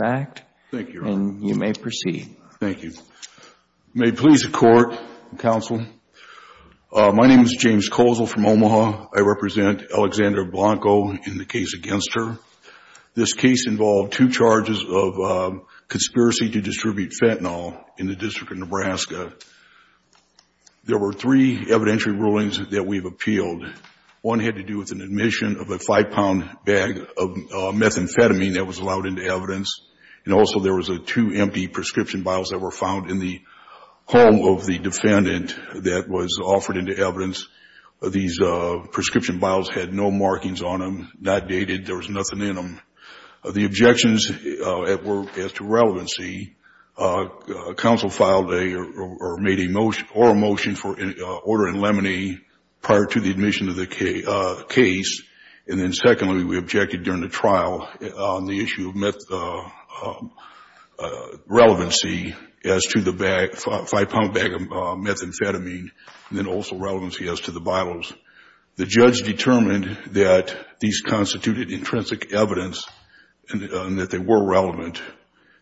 in the case against her. This case involved two charges of conspiracy to distribute fentanyl in the District of Nebraska. There were three evidentiary rulings that we've appealed. One had to do with an admission of a five-pound bag of methamphetamine that was allowed into evidence. The other had to do with an admission of a five-pound bag of methamphetamine that was allowed into evidence. And also there was a two empty prescription bottles that were found in the home of the defendant that was offered into evidence. These prescription bottles had no markings on them, not dated. There was nothing in them. The objections were as to relevancy. Council filed a or made a motion or a motion for an order in limine prior to the admission of the case. And then secondly, we objected during the trial on the issue of relevancy as to the five-pound bag of methamphetamine, and then also relevancy as to the bottles. The judge determined that these constituted intrinsic evidence and that they were relevant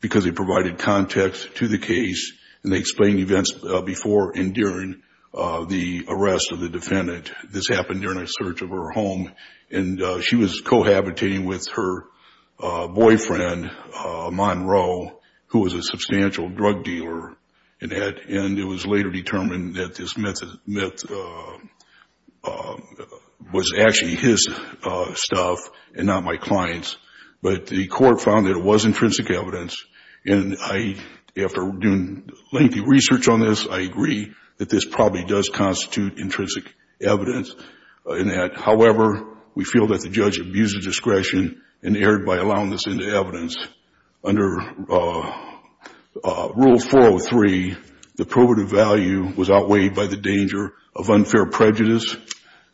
because they provided context to the case and they explained events before and during the arrest of the defendant. This happened during a search of her home and she was cohabitating with her boyfriend, Monroe, who was a substantial drug dealer. And it was later determined that this meth was actually his stuff and not my client's. But the court found that it was intrinsic evidence. And I, after doing lengthy research on this, I agree that this probably does constitute intrinsic evidence in that. However, we feel that the judge abused the discretion and erred by allowing this into evidence. Under Rule 403, the probative value was outweighed by the danger of unfair prejudice,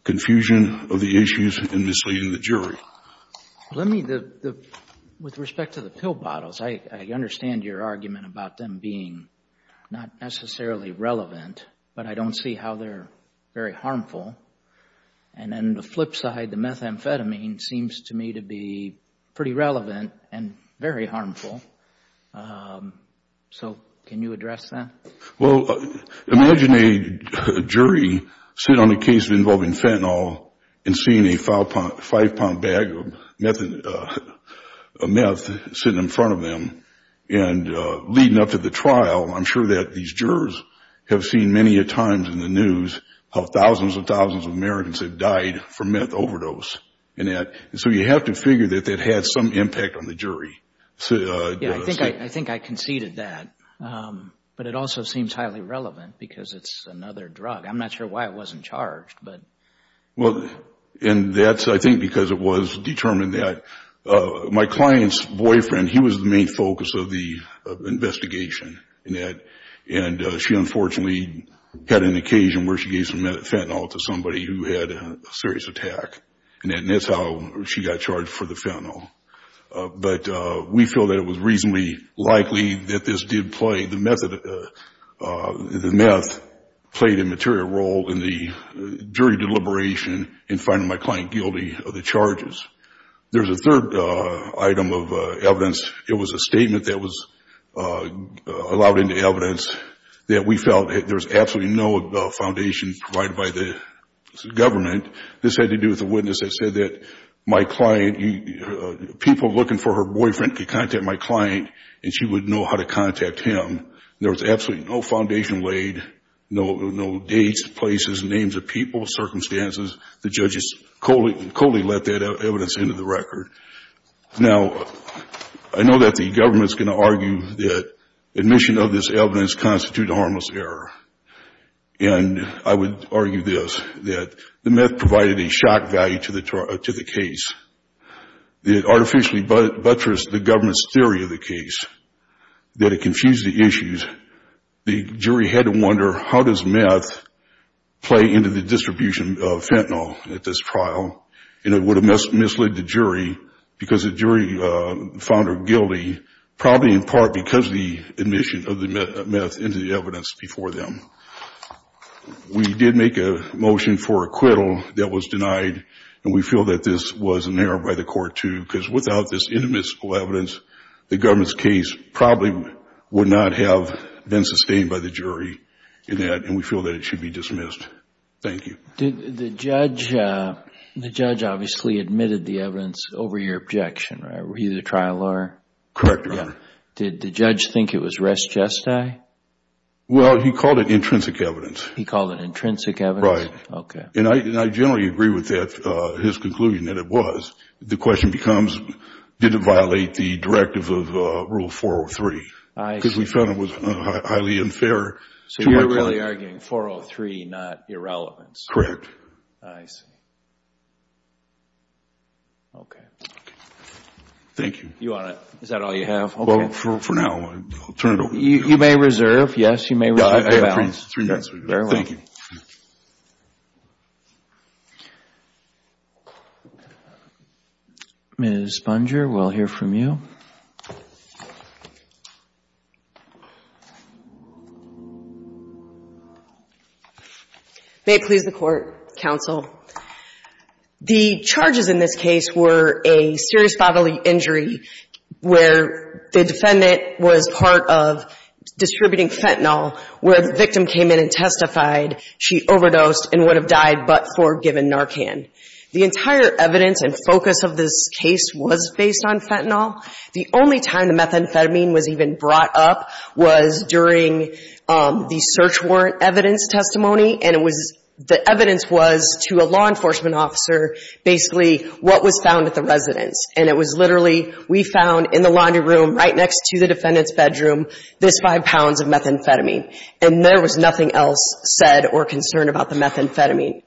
confusion of the issues, and misleading the jury. Let me, with respect to the pill bottles, I understand your argument about them being not necessarily relevant, but I don't see how they're very harmful. And then the flip side, the methamphetamine, seems to me to be pretty relevant and very harmful. So can you address that? Well, imagine a jury sit on a case involving fentanyl and seeing a five-pound bag of meth sitting in front of them. And leading up to the trial, I'm sure that these jurors have seen many a times in the news how thousands and thousands of Americans have died from meth overdose. And so you have to figure that that had some impact on the jury. Yeah, I think I conceded that. But it also seems highly relevant because it's another drug. I'm not sure why it wasn't charged. And that's, I think, because it was determined that my client's boyfriend, he was the main focus of the investigation. And she unfortunately had an occasion where she gave some fentanyl to somebody who had a serious attack. And that's how she got charged for the fentanyl. But we feel that it was reasonably likely that this did play, the meth played a material role in the jury deliberation in finding my client guilty of the charges. There's a third item of evidence. It was a statement that was allowed into evidence that we felt there was absolutely no foundation provided by the government. This had to do with a witness that said that my client, people looking for her boyfriend could contact my client and she would know how to contact him. There was absolutely no foundation laid, no dates, places, names of people, circumstances. The judges totally let that evidence into the record. Now, I know that the government's going to argue that admission of this evidence constitutes a harmless error. And I would argue this, that the meth provided a shock value to the case. It artificially buttressed the government's theory of the case, that it confused the issues. The jury had to wonder, how does meth play into the distribution of fentanyl at this trial? And it would have misled the jury because the jury found her guilty, probably in part because of the admission of the meth into the evidence before them. We did make a motion for acquittal that was denied, and we feel that this was an error by the court, too, because without this intimate evidence, the government's case probably would not have been sustained by the jury in that, and we feel that it should be dismissed. Thank you. The judge obviously admitted the evidence over your objection, right? Were you the trial lawyer? Correct, Your Honor. Did the judge think it was res gestae? Well, he called it intrinsic evidence. He called it intrinsic evidence? Okay. And I generally agree with that, his conclusion, that it was. The question becomes, did it violate the directive of Rule 403? I see. Because we found it was highly unfair. So you're really arguing 403, not irrelevance? Correct. I see. Okay. Thank you. Is that all you have? Well, for now, I'll turn it over. You may reserve. Yes, you may. Three minutes. Thank you. Ms. Bunger, we'll hear from you. May it please the Court, counsel. The charges in this case were a serious bodily injury where the defendant was part of distributing fentanyl where the victim came in and testified she overdosed and would have died but for giving Narcan. The entire evidence and focus of this case was based on fentanyl. The only time the methamphetamine was even brought up was during the search warrant evidence testimony, and the evidence was to a law enforcement officer basically what was found at the residence. And it was literally, we found in the laundry room right next to the defendant's bedroom this five pounds of methamphetamine. And there was nothing else said or concerned about the methamphetamine.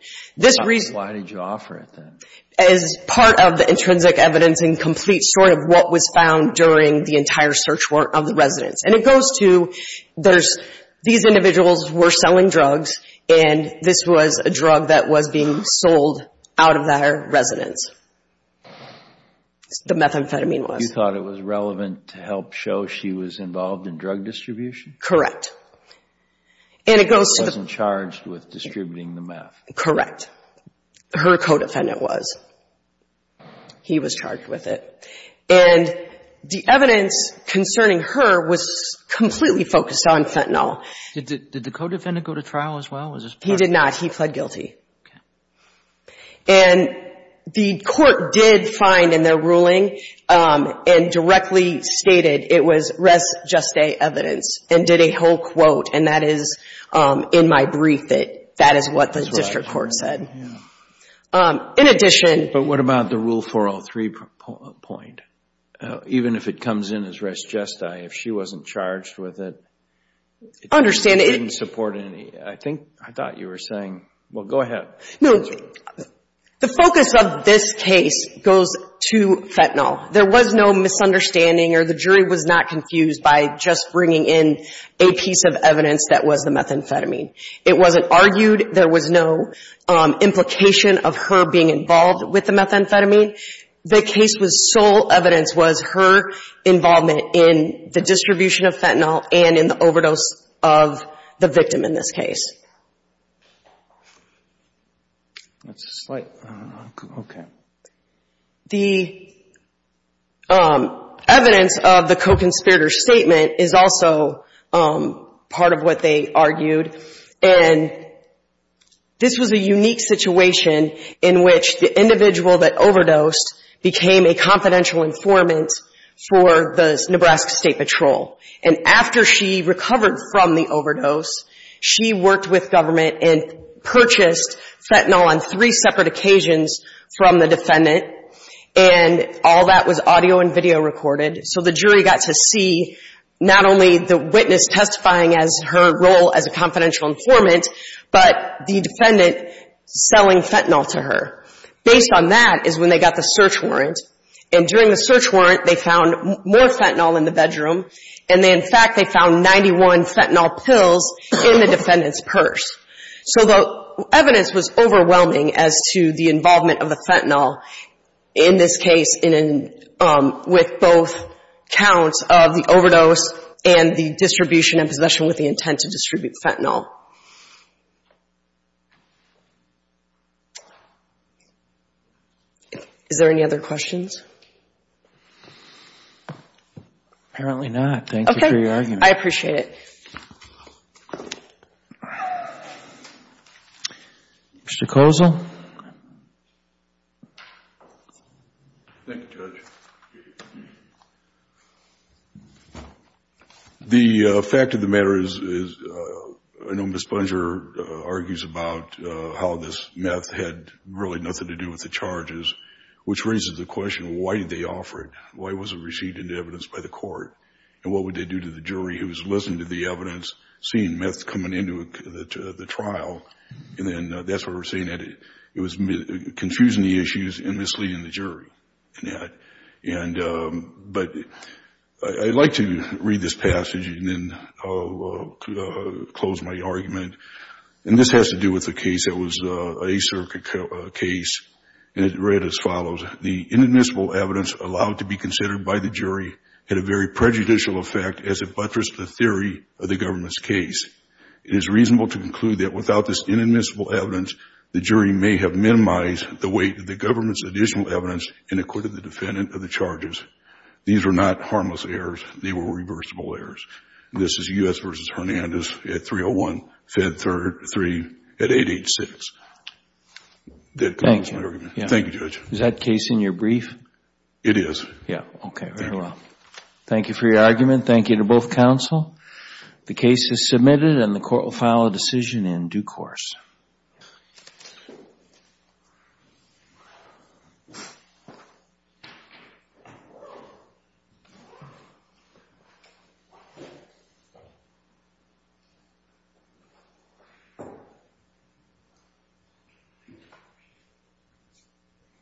Why did you offer it then? As part of the intrinsic evidence and complete story of what was found during the entire search warrant of the residence. And it goes to these individuals were selling drugs and this was a drug that was being sold out of their residence, the methamphetamine was. You thought it was relevant to help show she was involved in drug distribution? Correct. And it goes to the distributing the meth? Correct. Her co-defendant was. He was charged with it. And the evidence concerning her was completely focused on fentanyl. Did the co-defendant go to trial as well? He did not. He pled guilty. Okay. And the court did find in their ruling and directly stated it was res juste evidence and did a whole quote. And that is in my brief that that is what the district court said. In addition. But what about the rule 403 point? Even if it comes in as res jeste, if she wasn't charged with it. Understand. It didn't support any. I think I thought you were saying. Well, go ahead. No. The focus of this case goes to fentanyl. There was no misunderstanding or the jury was not confused by just bringing in a piece of evidence that was the methamphetamine. It wasn't argued. There was no implication of her being involved with the methamphetamine. The case was sole evidence was her involvement in the distribution of fentanyl and in the overdose of the victim in this case. That's a slight. Okay. The evidence of the co-conspirator statement is also part of what they argued. And this was a unique situation in which the individual that overdosed became a confidential informant for the Nebraska State Patrol. And after she recovered from the overdose, she worked with government and purchased fentanyl on three separate occasions from the defendant. And all that was audio and video recorded. So the jury got to see not only the witness testifying as her role as a confidential informant, but the defendant selling fentanyl to her. Based on that is when they got the search warrant. And during the search warrant, they found more fentanyl in the bedroom. And, in fact, they found 91 fentanyl pills in the defendant's purse. So the evidence was overwhelming as to the involvement of the fentanyl in this case with both counts of the overdose and the distribution and possession with the intent to distribute fentanyl. Is there any other questions? Apparently not. Thank you for your argument. I appreciate it. Mr. Kozol? Thank you, Judge. The fact of the matter is, I know Ms. Bunger argues about how this meth had really nothing to do with the charges, which raises the question, why did they offer it? Why was it received into evidence by the court? And what would they do to the jury who was listening to the evidence and seeing meth coming into the trial? And then that's what we're saying, that it was confusing the issues and misleading the jury. But I'd like to read this passage and then I'll close my argument. And this has to do with a case that was an acirc case, and it read as follows. Thank you, Judge. Is that case in your brief? It is. Okay, very well. Thank you for your argument. Thank you to both counsel. The case is submitted and the court will file a decision in due course.